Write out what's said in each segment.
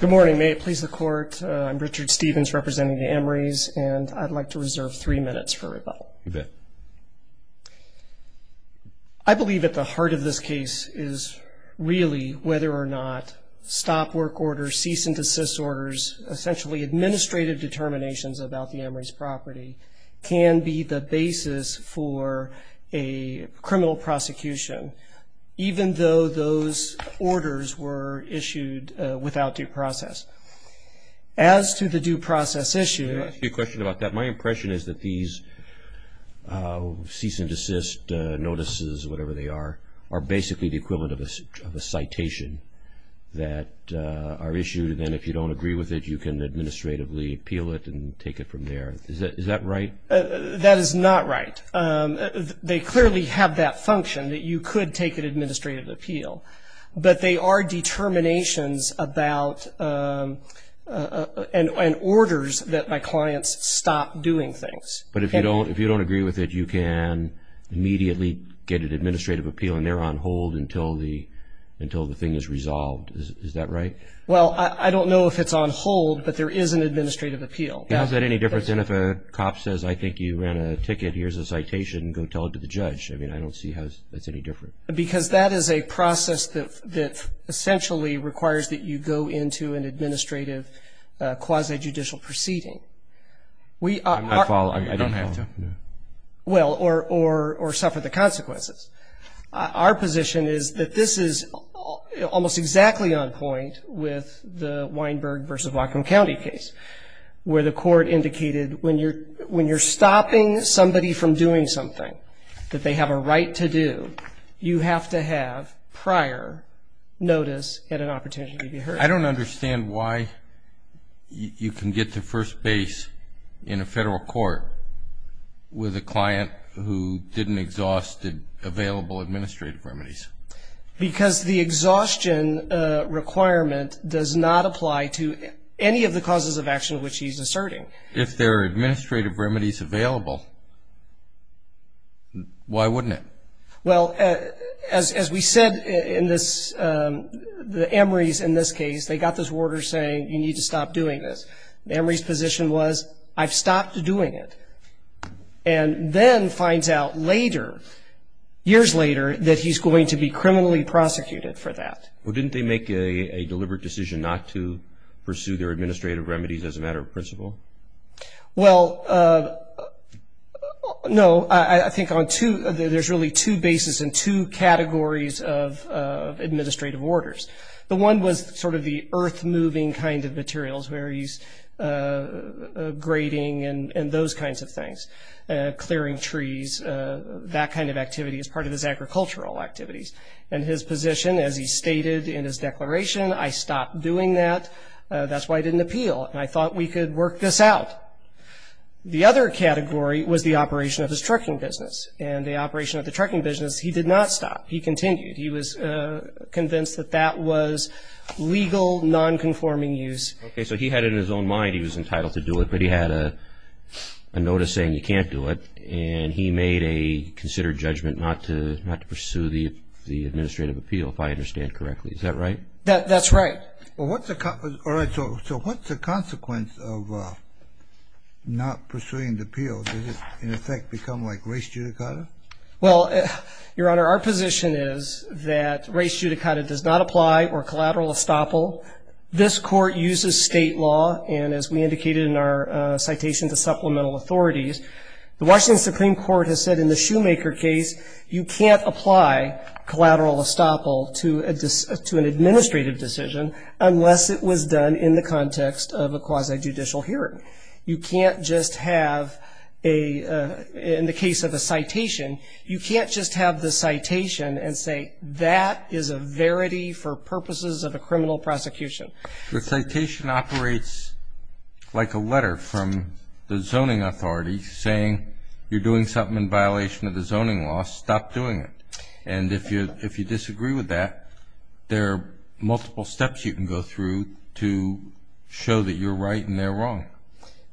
Good morning may it please the court I'm Richard Stevens representing the Emery's and I'd like to reserve three minutes for rebuttal. I believe at the heart of this case is really whether or not stop work order cease and desist orders essentially administrative determinations about the Emery's property can be the basis for a criminal prosecution even though those orders were issued without due process. As to the due process issue... Let me ask you a question about that my impression is that these cease and desist notices whatever they are are basically the equivalent of a citation that are issued and if you don't agree with it you can administratively appeal it and take it from there is that is that right? That is not right they clearly have that function that you could take an administrative appeal but they are determinations about and orders that my clients stop doing things. But if you don't if you don't agree with it you can immediately get an administrative appeal and they're on hold until the until the thing is resolved is that right? Well I don't know if it's on hold but there is an administrative appeal. Is that any different than if a cop says I think you ran a ticket here's a citation go tell it to a judge I mean I don't see how that's any different. Because that is a process that that essentially requires that you go into an administrative quasi judicial proceeding. I don't have to. Well or suffer the consequences. Our position is that this is almost exactly on point with the Weinberg versus Whatcom County case where the court indicated when you're when you're that they have a right to do you have to have prior notice at an opportunity to be heard. I don't understand why you can get to first base in a federal court with a client who didn't exhaust the available administrative remedies. Because the exhaustion requirement does not apply to any of the causes of action which he's Why wouldn't it? Well as we said in this the Emory's in this case they got this order saying you need to stop doing this. The Emory's position was I've stopped doing it. And then finds out later years later that he's going to be criminally prosecuted for that. Well didn't they make a deliberate decision not to pursue their administrative remedies as a matter of principle? Well no I think on there's really two bases and two categories of administrative orders. The one was sort of the earth-moving kind of materials where he's grading and those kinds of things. Clearing trees that kind of activity is part of his agricultural activities. And his position as he stated in his declaration I stopped doing that. That's why I didn't appeal and I thought we could work this out. The other category was the operation of his trucking business. And the operation of the trucking business he did not stop. He continued. He was convinced that that was legal non-conforming use. Okay so he had in his own mind he was entitled to do it. But he had a notice saying you can't do it. And he made a considered judgment not to not to pursue the the administrative appeal if I understand correctly. Is that right? That that's right. Well what's the consequence all Well your honor our position is that race judicata does not apply or collateral estoppel. This court uses state law and as we indicated in our citation to supplemental authorities. The Washington Supreme Court has said in the Shoemaker case you can't apply collateral estoppel to a to an administrative decision unless it was done in the context of a quasi-judicial hearing. You can't just have a in the case of a citation you can't just have the citation and say that is a verity for purposes of a criminal prosecution. The citation operates like a letter from the zoning authority saying you're doing something in violation of the zoning law. Stop doing it. And if you if you disagree with that there are multiple steps you can go through to show that you're right and they're wrong.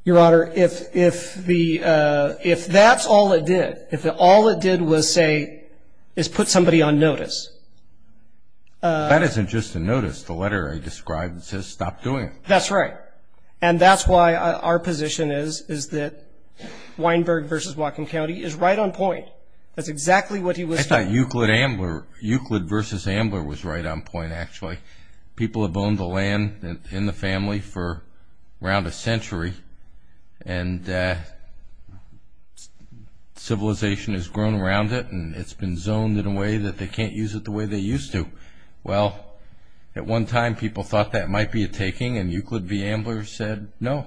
Your honor if if the if that's all it did if all it did was say is put somebody on notice. That isn't just a notice the letter I described says stop doing it. That's right and that's why our position is is that Weinberg versus Whatcom County is right on point. That's exactly what he was saying. Euclid versus Ambler was right on point actually. People have the land in the family for around a century and civilization has grown around it and it's been zoned in a way that they can't use it the way they used to. Well at one time people thought that might be a taking and Euclid v. Ambler said no.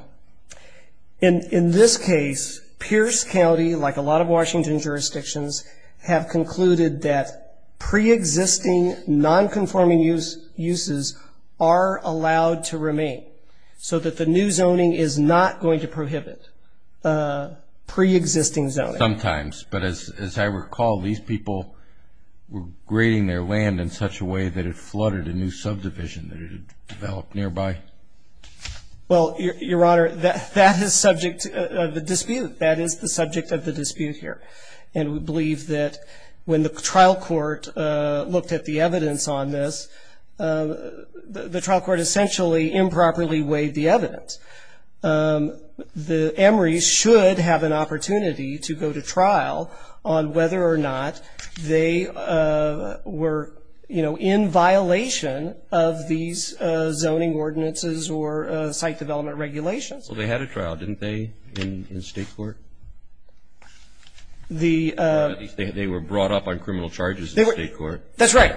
And in this case Pierce County like a lot of Washington jurisdictions have concluded that pre-existing non-conforming uses are allowed to remain so that the new zoning is not going to prohibit pre-existing zoning. Sometimes but as I recall these people were grading their land in such a way that it flooded a new subdivision that had developed nearby. Well your honor that that is subject the dispute that is the subject of the dispute here and we believe that when the trial court looked at the evidence on this the trial court essentially improperly weighed the evidence. The Emory's should have an opportunity to go to trial on whether or not they were you know in violation of these zoning ordinances or site development regulations. Well they had a brought up.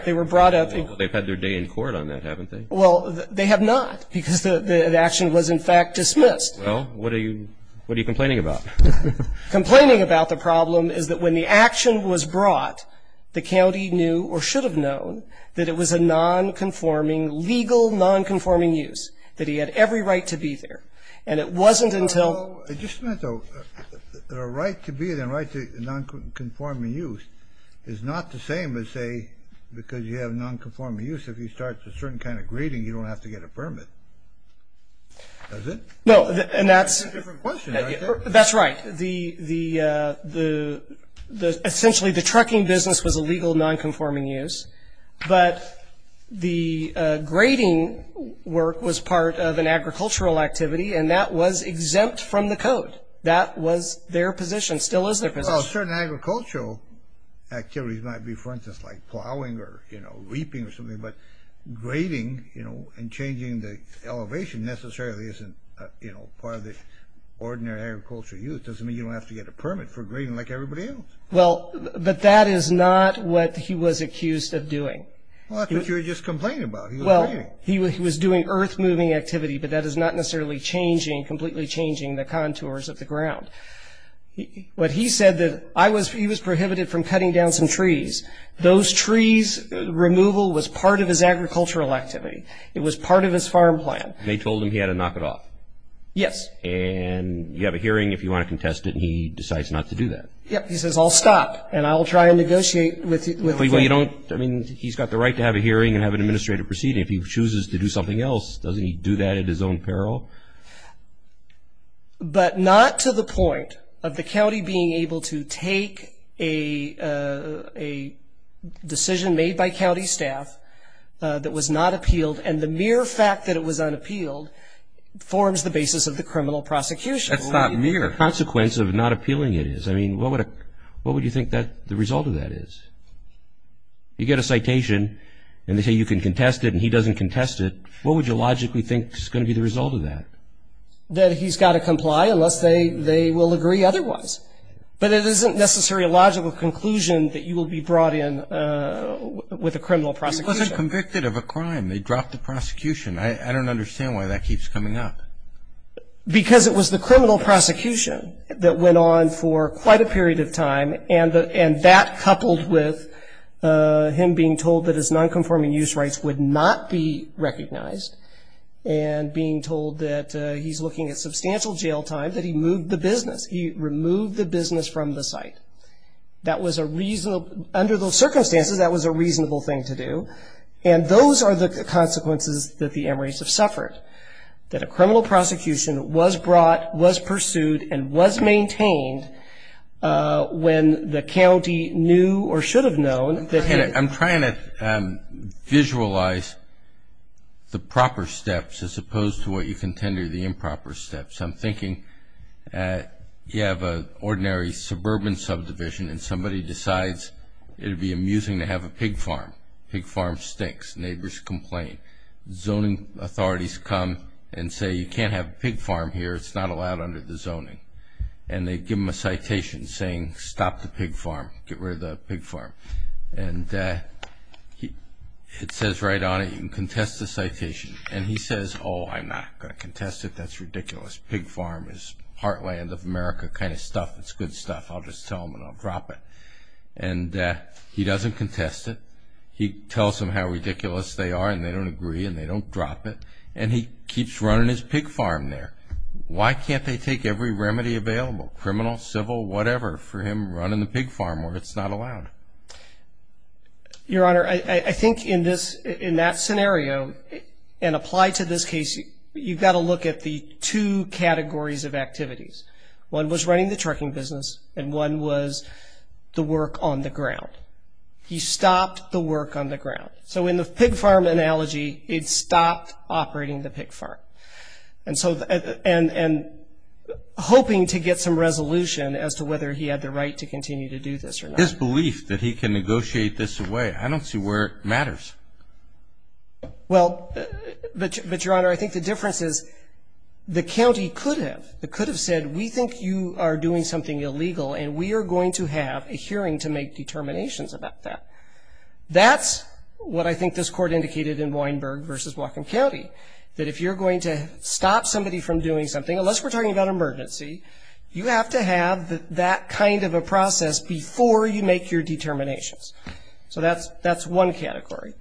They've had their day in court on that haven't they? Well they have not because the action was in fact dismissed. Well what are you complaining about? Complaining about the problem is that when the action was brought the county knew or should have known that it was a non-conforming legal non-conforming use that he had every right to be there and it wasn't until Just a minute though. The right to be there and the right to non-conforming use is not the same as say because you have non-conforming use if you start a certain kind of grading you don't have to get a permit. Does it? No and that's that's right the the the the essentially the trucking business was a legal non-conforming use but the grading work was part of an agricultural activity and that was exempt from the code that was their position still is their position. Well certain agricultural activities might be for instance like plowing or you know reaping or something but grading you know and changing the elevation necessarily isn't you know part of the ordinary agricultural use. It doesn't mean you don't have to get a permit for grading like everybody else. Well but that is not what he was accused of doing. Well that's what you were just complaining about. Well he was doing earth-moving activity but that is not necessarily changing completely changing the contours of the ground. What he said that I was he was prohibited from cutting down some trees. Those trees removal was part of his agricultural activity. It was part of his farm plan. They told him he had to knock it off. Yes. And you have a hearing if you want to contest it and he decides not to do that. Yep he says I'll stop and I'll try and negotiate with you. Well you don't I mean he's got the right to have a hearing and have an administrative proceeding if he chooses to do something else. Doesn't he do that at his own peril? But not to the point of the county being able to take a decision made by county staff that was not appealed and the mere fact that it was unappealed forms the basis of the criminal prosecution. That's not mere. The consequence of not appealing it is. I mean what would what would you think that the result of that is? You get a citation and they say you can contest it and he doesn't contest it. What would you logically think is going to be the result of that? That he's got to comply unless they they will agree otherwise. But it isn't necessarily a logical conclusion that you will be brought in with a criminal prosecution. He wasn't convicted of a crime. They dropped the prosecution. I don't understand why that keeps coming up. Because it was the criminal prosecution that went on for quite a period of time and that coupled with him being told that his non-conforming use rights would not be recognized and being told that he's looking at substantial jail time that he moved the business. He removed the business from the site. That was a reasonable under those circumstances that was a reasonable thing to do. And those are the consequences that the Emory's have suffered. That a criminal prosecution was brought was pursued and was maintained when the county knew or should have known. I'm trying to visualize the proper steps as opposed to what you contend are the improper steps. I'm thinking you have an ordinary suburban subdivision and somebody decides it would be amusing to have a pig farm. Pig farm stinks. Neighbors complain. Zoning authorities come and say you can't have a pig farm here. It's not allowed under the zoning. And they give them a citation saying stop the pig farm. Get rid of the pig farm. And it says right on it you can contest the citation. And he says oh I'm not going to contest it. That's ridiculous. Pig farm is heartland of America kind of stuff. It's good stuff. I'll just tell them and I'll drop it. And he doesn't contest it. He tells them how ridiculous they are and they don't agree and they don't drop it. And he keeps running his pig farm there. Why can't they take every remedy available, criminal, civil, whatever for him running the pig farm where it's not allowed? Your Honor, I think in that scenario and apply to this case you've got to look at the two categories of activities. One was running the trucking business and one was the work on the ground. He stopped the work on the ground. So in the pig farm analogy it stopped operating the pig farm. And hoping to get some resolution as to whether he had the right to continue to do this or not. His belief that he can negotiate this away, I don't see where it matters. Well, but Your Honor, I think the difference is the county could have. It could have said we think you are doing something illegal and we are going to have a hearing to make determinations about that. That's what I think this court indicated in Weinberg versus Whatcom County that if you're going to stop somebody from doing something, unless we're talking about emergency, you have to have that kind of a process before you make your determinations. So that's one category.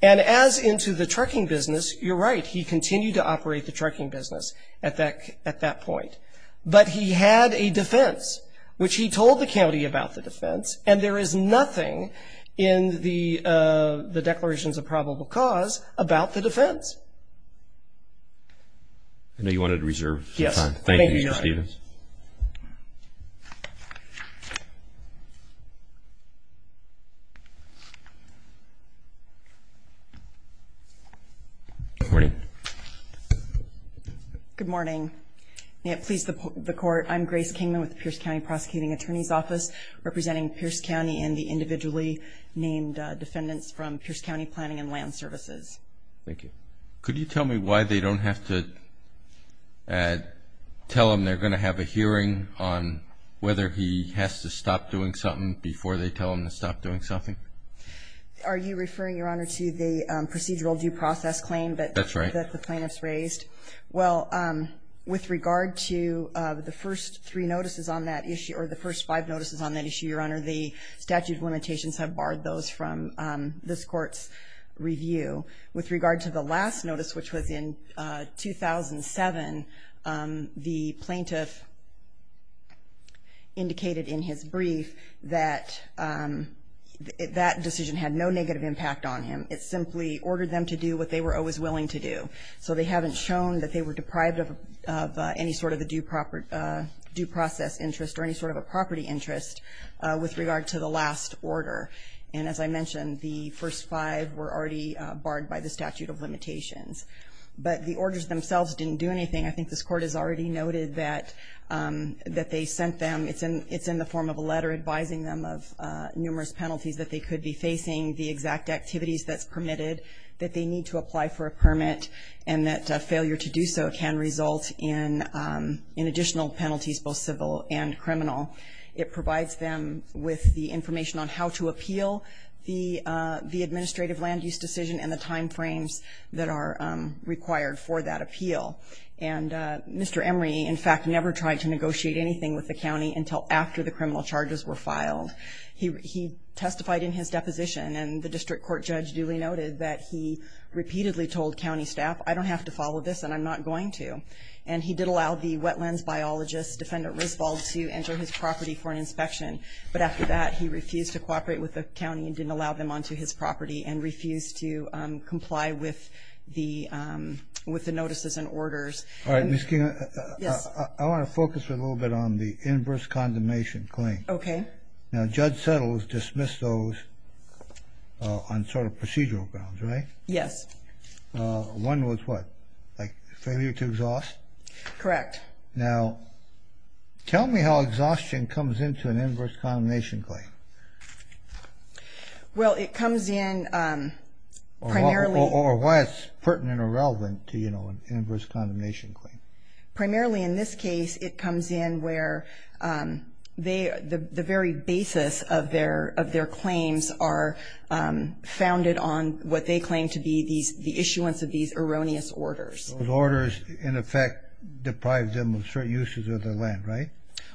And as into the trucking business, you're right, he continued to operate the trucking business at that point. But he had a defense which he told the county about the defense and there is nothing in the declarations of probable cause about the defense. I know you wanted to reserve some time. Thank you, Mr. Stevens. Good morning. May it please the court, I'm Grace Kingman with the Pierce County Prosecuting Attorney's Office representing Pierce County and the individually named defendants from Pierce County Planning and Land Services. Thank you. Could you tell me why they don't have to tell him they're going to have a hearing on whether he has to stop doing something before they tell him to stop doing something? Are you referring, Your Honor, to the procedural due process claim that the plaintiffs raised? That's right. Well, with regard to the first three notices on that issue, or the first five notices on that issue, Your Honor, the statute of limitations have barred those from this court's review. With regard to the last notice, which was in 2007, the plaintiff indicated in his brief that that decision had no negative impact on him. It simply ordered them to do what they were always willing to do. So they haven't shown that they were deprived of any sort of a due process interest or any sort of a property interest with regard to the last order. And as I mentioned, the first five were already barred by the statute of limitations. But the orders themselves didn't do anything. I think this court has already noted that they sent them, it's in the form of a letter advising them of numerous penalties that they could be facing, the exact activities that's permitted, that they need to apply for a permit, and that failure to do so can result in additional penalties, both civil and criminal. It provides them with the information on how to appeal the administrative land use decision and the time frames that are required for that appeal. And Mr. Emery, in fact, never tried to negotiate anything with the county until after the criminal charges were filed. He testified in his deposition, and the district court judge duly noted that he repeatedly told county staff, I don't have to follow this and I'm not going to. And he did allow the wetlands biologist, Defendant Risvold, to enter his property for an inspection. But after that, he refused to cooperate with the county and didn't allow them onto his property and refused to comply with the notices and orders. All right, Ms. King. Yes. I want to focus a little bit on the inverse condemnation claim. Okay. Now, Judge Settles dismissed those on sort of procedural grounds, right? Yes. One was what? Like failure to exhaust? Correct. Now, tell me how exhaustion comes into an inverse condemnation claim. Well, it comes in primarily. Or why it's pertinent or relevant to, you know, an inverse condemnation claim. Primarily in this case, it comes in where the very basis of their claims are founded on what they claim to be the issuance of these erroneous orders. Those orders, in effect, deprive them of certain uses of their land, right?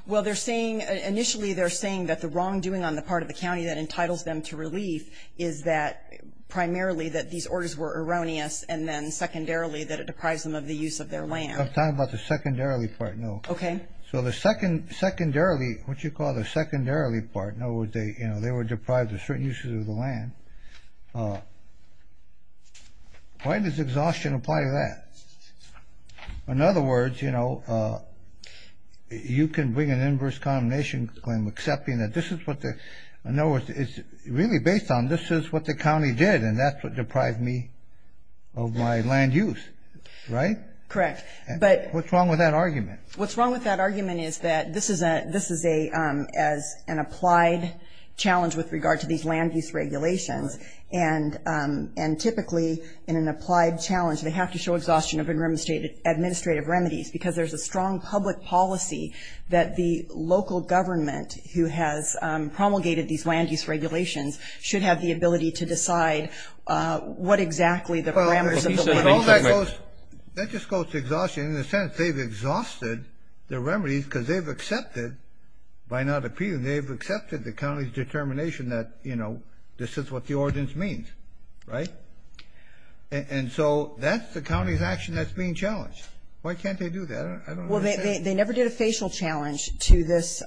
Well, they're saying initially they're saying that the wrongdoing on the part of the county that entitles them to relief is that primarily that these orders were erroneous and then secondarily that it deprives them of the use of their land. I'm talking about the secondarily part, no. Okay. So the secondarily, what you call the secondarily part, no, they were deprived of certain uses of the land. Why does exhaustion apply to that? In other words, you know, you can bring an inverse condemnation claim accepting that this is what the, in other words, it's really based on this is what the county did and that's what deprived me of my land use, right? Correct. What's wrong with that argument? What's wrong with that argument is that this is an applied challenge with regard to these land use regulations. And typically in an applied challenge, they have to show exhaustion of administrative remedies because there's a strong public policy that the local government who has promulgated these land use regulations should have the ability to decide what exactly the parameters of the land use regulations. That just goes to exhaustion. In a sense, they've exhausted their remedies because they've accepted, by not appealing, they've accepted the county's determination that, you know, this is what the ordinance means, right? And so that's the county's action that's being challenged. Why can't they do that? I don't understand. Well, they never did a facial challenge to this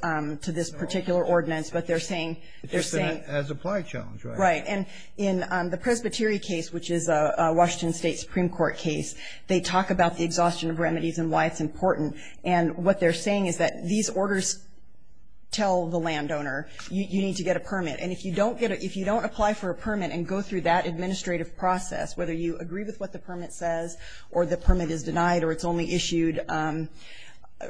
particular ordinance, but they're saying they're saying. It's an as-applied challenge, right? Right. And in the Presbyterian case, which is a Washington State Supreme Court case, they talk about the exhaustion of remedies and why it's important. And what they're saying is that these orders tell the landowner, you need to get a permit. And if you don't get it, if you don't apply for a permit and go through that administrative process, whether you agree with what the permit says or the permit is denied or it's only issued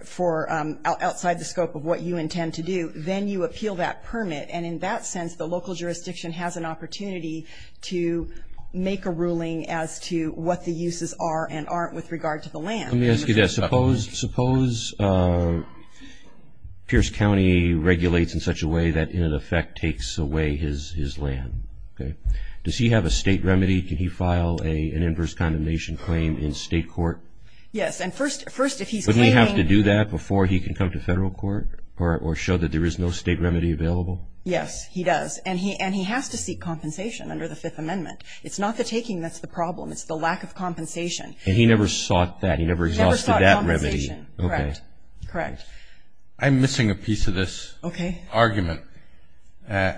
for outside the scope of what you intend to do, then you appeal that permit. And in that sense, the local jurisdiction has an opportunity to make a ruling as to what the uses are and aren't with regard to the land. Let me ask you this. Suppose Pierce County regulates in such a way that, in effect, takes away his land. Does he have a state remedy? Can he file an inverse condemnation claim in state court? Yes. And first, if he's claiming- Would he have to do that before he can come to federal court or show that there is no state remedy available? Yes, he does. And he has to seek compensation under the Fifth Amendment. It's not the taking that's the problem. It's the lack of compensation. And he never sought that. And he never exhausted that remedy. He never sought compensation. Correct. Correct. I'm missing a piece of this argument. Okay.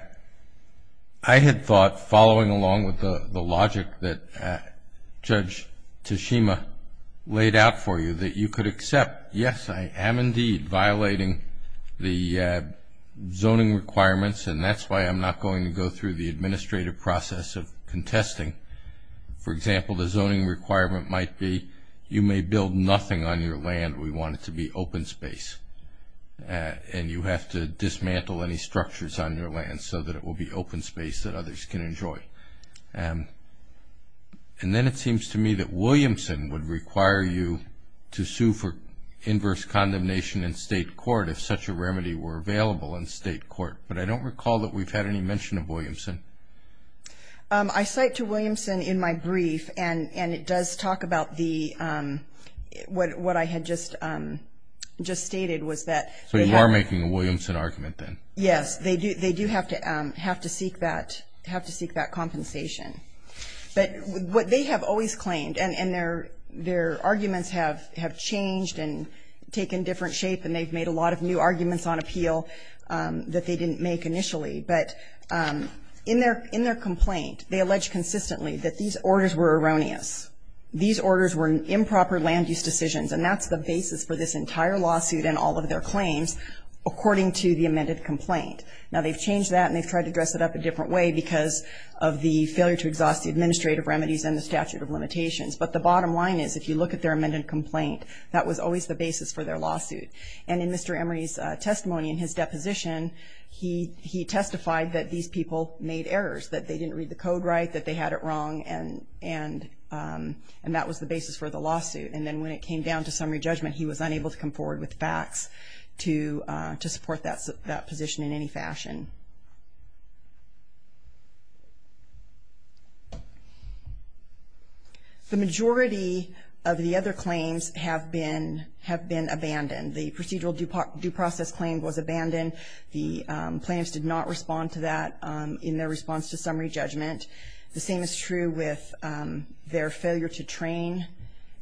I had thought, following along with the logic that Judge Tashima laid out for you, that you could accept, yes, I am indeed violating the zoning requirements, and that's why I'm not going to go through the administrative process of contesting. For example, the zoning requirement might be you may build nothing on your land. We want it to be open space. And you have to dismantle any structures on your land so that it will be open space that others can enjoy. And then it seems to me that Williamson would require you to sue for inverse condemnation in state court if such a remedy were available in state court. But I don't recall that we've had any mention of Williamson. I cite to Williamson in my brief, and it does talk about what I had just stated, was that they have to. So you are making a Williamson argument then? Yes. They do have to seek that compensation. But what they have always claimed, and their arguments have changed and taken different shape, and they've made a lot of new arguments on appeal that they didn't make initially. But in their complaint, they allege consistently that these orders were erroneous. These orders were improper land use decisions, and that's the basis for this entire lawsuit and all of their claims according to the amended complaint. Now, they've changed that, and they've tried to dress it up a different way because of the failure to exhaust the administrative remedies and the statute of limitations. But the bottom line is if you look at their amended complaint, that was always the basis for their lawsuit. And in Mr. Emery's testimony in his deposition, he testified that these people made errors, that they didn't read the code right, that they had it wrong, and that was the basis for the lawsuit. And then when it came down to summary judgment, he was unable to come forward with facts to support that position in any fashion. The majority of the other claims have been abandoned. The procedural due process claim was abandoned. The plaintiffs did not respond to that in their response to summary judgment. The same is true with their failure to train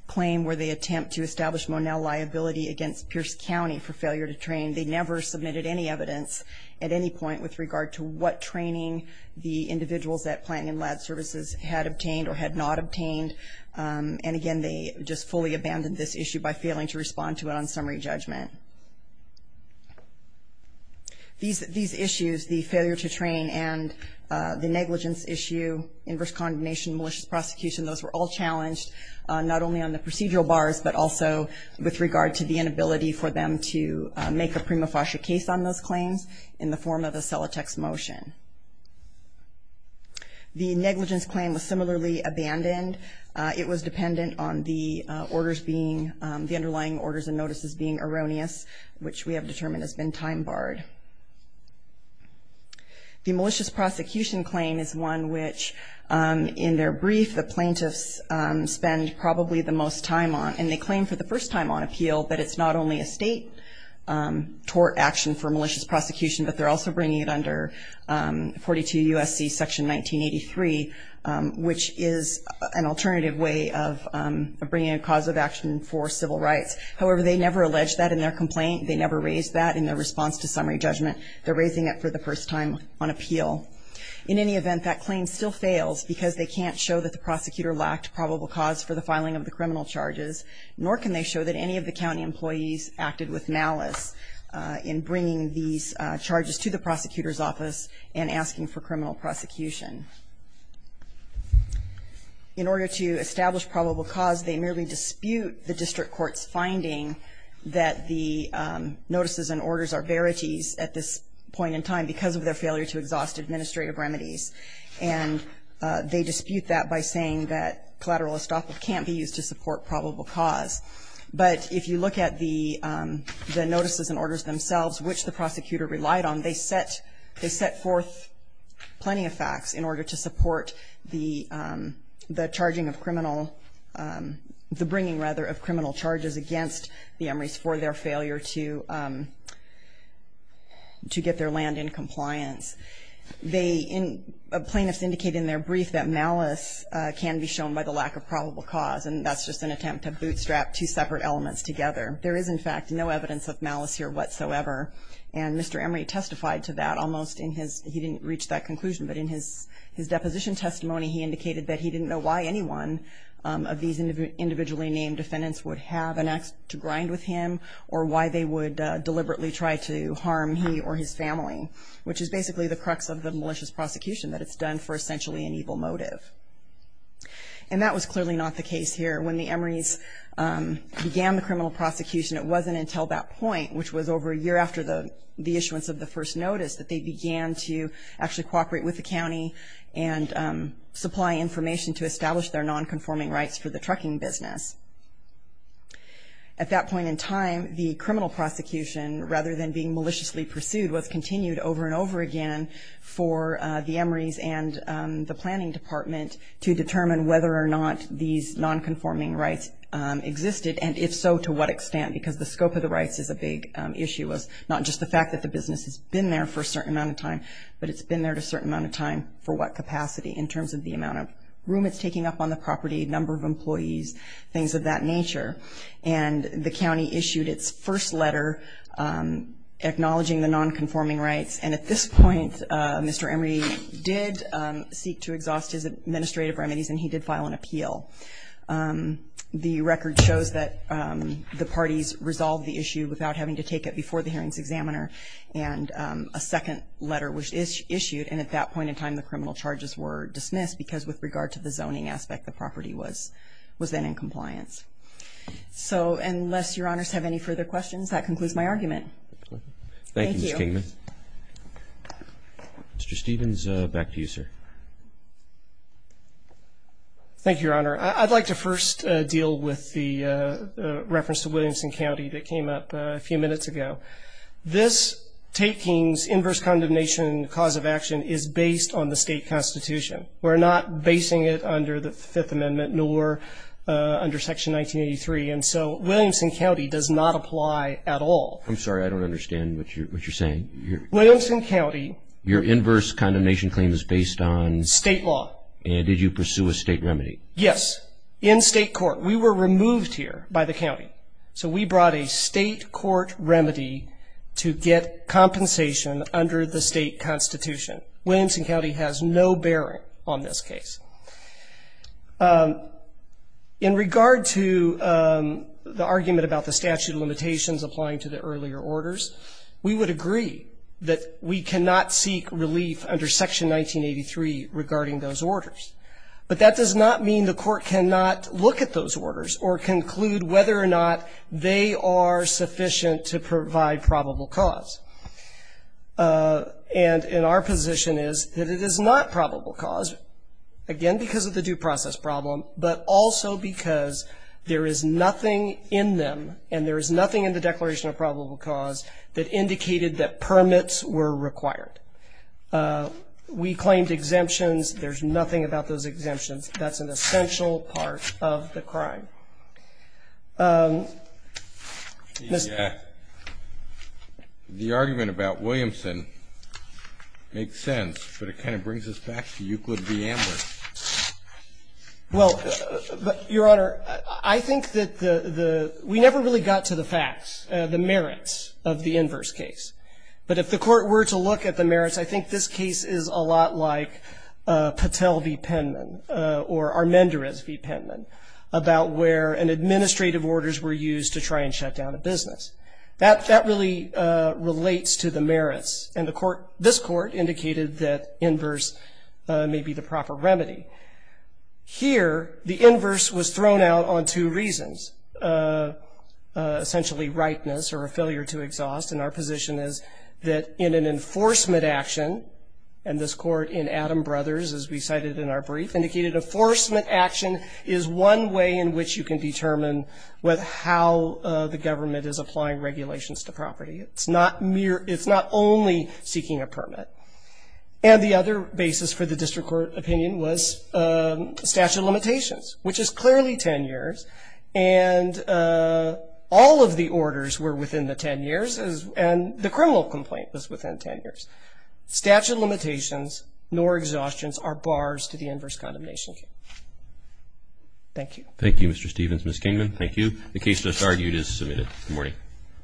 claim where they attempt to establish Monell liability against Pierce County for failure to train. They never submitted any evidence at any point with regard to what training the individuals at Planton and Ladd Services had obtained or had not obtained. And again, they just fully abandoned this issue by failing to respond to it on summary judgment. These issues, the failure to train and the negligence issue, inverse condemnation, malicious prosecution, those were all challenged, not only on the procedural bars, but also with regard to the inability for them to make a prima facie case on those claims in the form of a Celotex motion. The negligence claim was similarly abandoned. It was dependent on the underlying orders and notices being erroneous, which we have determined has been time barred. The malicious prosecution claim is one which, in their brief, the plaintiffs spend probably the most time on, and they claim for the first time on appeal that it's not only a state tort action for malicious prosecution, but they're also bringing it under 42 U.S.C. Section 1983, which is an alternative way of bringing a cause of action for civil rights. However, they never alleged that in their complaint. They never raised that in their response to summary judgment. They're raising it for the first time on appeal. In any event, that claim still fails because they can't show that the prosecutor lacked probable cause for the filing of the criminal charges, nor can they show that any of the county employees acted with malice in bringing these charges to the prosecutor's office and asking for criminal prosecution. In order to establish probable cause, they merely dispute the district court's finding that the notices and orders are verities at this point in time because of their failure to exhaust administrative remedies, and they dispute that by saying that collateral estoppel can't be used to support probable cause. But if you look at the notices and orders themselves, which the prosecutor relied on, they set forth plenty of facts in order to support the bringing of criminal charges against the Emrys for their failure to get their land in compliance. Plaintiffs indicate in their brief that malice can be shown by the lack of probable cause, and that's just an attempt to bootstrap two separate elements together. There is, in fact, no evidence of malice here whatsoever, and Mr. Emry testified to that almost in his ‑‑ he didn't reach that conclusion, but in his deposition testimony he indicated that he didn't know why anyone of these individually named defendants would have an act to grind with him or why they would deliberately try to harm he or his family, which is basically the crux of the malicious prosecution, that it's done for essentially an evil motive. And that was clearly not the case here. When the Emrys began the criminal prosecution, it wasn't until that point, which was over a year after the issuance of the first notice, that they began to actually cooperate with the county and supply information to establish their nonconforming rights for the trucking business. At that point in time, the criminal prosecution, rather than being maliciously pursued, was continued over and over again for the Emrys and the planning department to determine whether or not these nonconforming rights existed, and if so, to what extent, because the scope of the rights is a big issue, not just the fact that the business has been there for a certain amount of time, but it's been there a certain amount of time for what capacity in terms of the amount of room it's taking up on the property, number of employees, things of that nature. And the county issued its first letter acknowledging the nonconforming rights. And at this point, Mr. Emry did seek to exhaust his administrative remedies, and he did file an appeal. The record shows that the parties resolved the issue without having to take it before the hearings examiner, and a second letter was issued, and at that point in time, the criminal charges were dismissed because with regard to the zoning aspect, the property was then in compliance. So unless Your Honors have any further questions, that concludes my argument. Thank you, Ms. Kingman. Mr. Stephens, back to you, sir. Thank you, Your Honor. I'd like to first deal with the reference to Williamson County that came up a few minutes ago. This taking's inverse condemnation cause of action is based on the state constitution. We're not basing it under the Fifth Amendment nor under Section 1983, and so Williamson County does not apply at all. I'm sorry. I don't understand what you're saying. Williamson County. Your inverse condemnation claim is based on? State law. And did you pursue a state remedy? Yes, in state court. We were removed here by the county. So we brought a state court remedy to get compensation under the state constitution. Williamson County has no bearing on this case. In regard to the argument about the statute of limitations applying to the earlier orders, we would agree that we cannot seek relief under Section 1983 regarding those orders, but that does not mean the court cannot look at those orders or conclude whether or not they are sufficient to provide probable cause. And our position is that it is not probable cause, again, because of the due process problem, but also because there is nothing in them and there is nothing in the Declaration of Probable Cause that indicated that permits were required. We claimed exemptions. There's nothing about those exemptions. That's an essential part of the crime. The argument about Williamson makes sense, but it kind of brings us back to Euclid v. Amler. Well, Your Honor, I think that the we never really got to the facts, the merits of the inverse case. But if the court were to look at the merits, I think this case is a lot like Patel v. Penman or Armendariz v. Penman about where administrative orders were used to try and shut down a business. That really relates to the merits, and this court indicated that inverse may be the proper remedy. Here, the inverse was thrown out on two reasons, essentially rightness or a failure to exhaust, and our position is that in an enforcement action, and this court in Adam Brothers, as we cited in our brief, indicated enforcement action is one way in which you can determine how the government is applying regulations to property. It's not only seeking a permit. And the other basis for the district court opinion was statute of limitations, which is clearly 10 years, and all of the orders were within the 10 years, and the criminal complaint was within 10 years. Statute of limitations nor exhaustions are bars to the inverse condemnation case. Thank you. Thank you, Mr. Stevens. Ms. Kingman, thank you. The case thus argued is submitted. Good morning.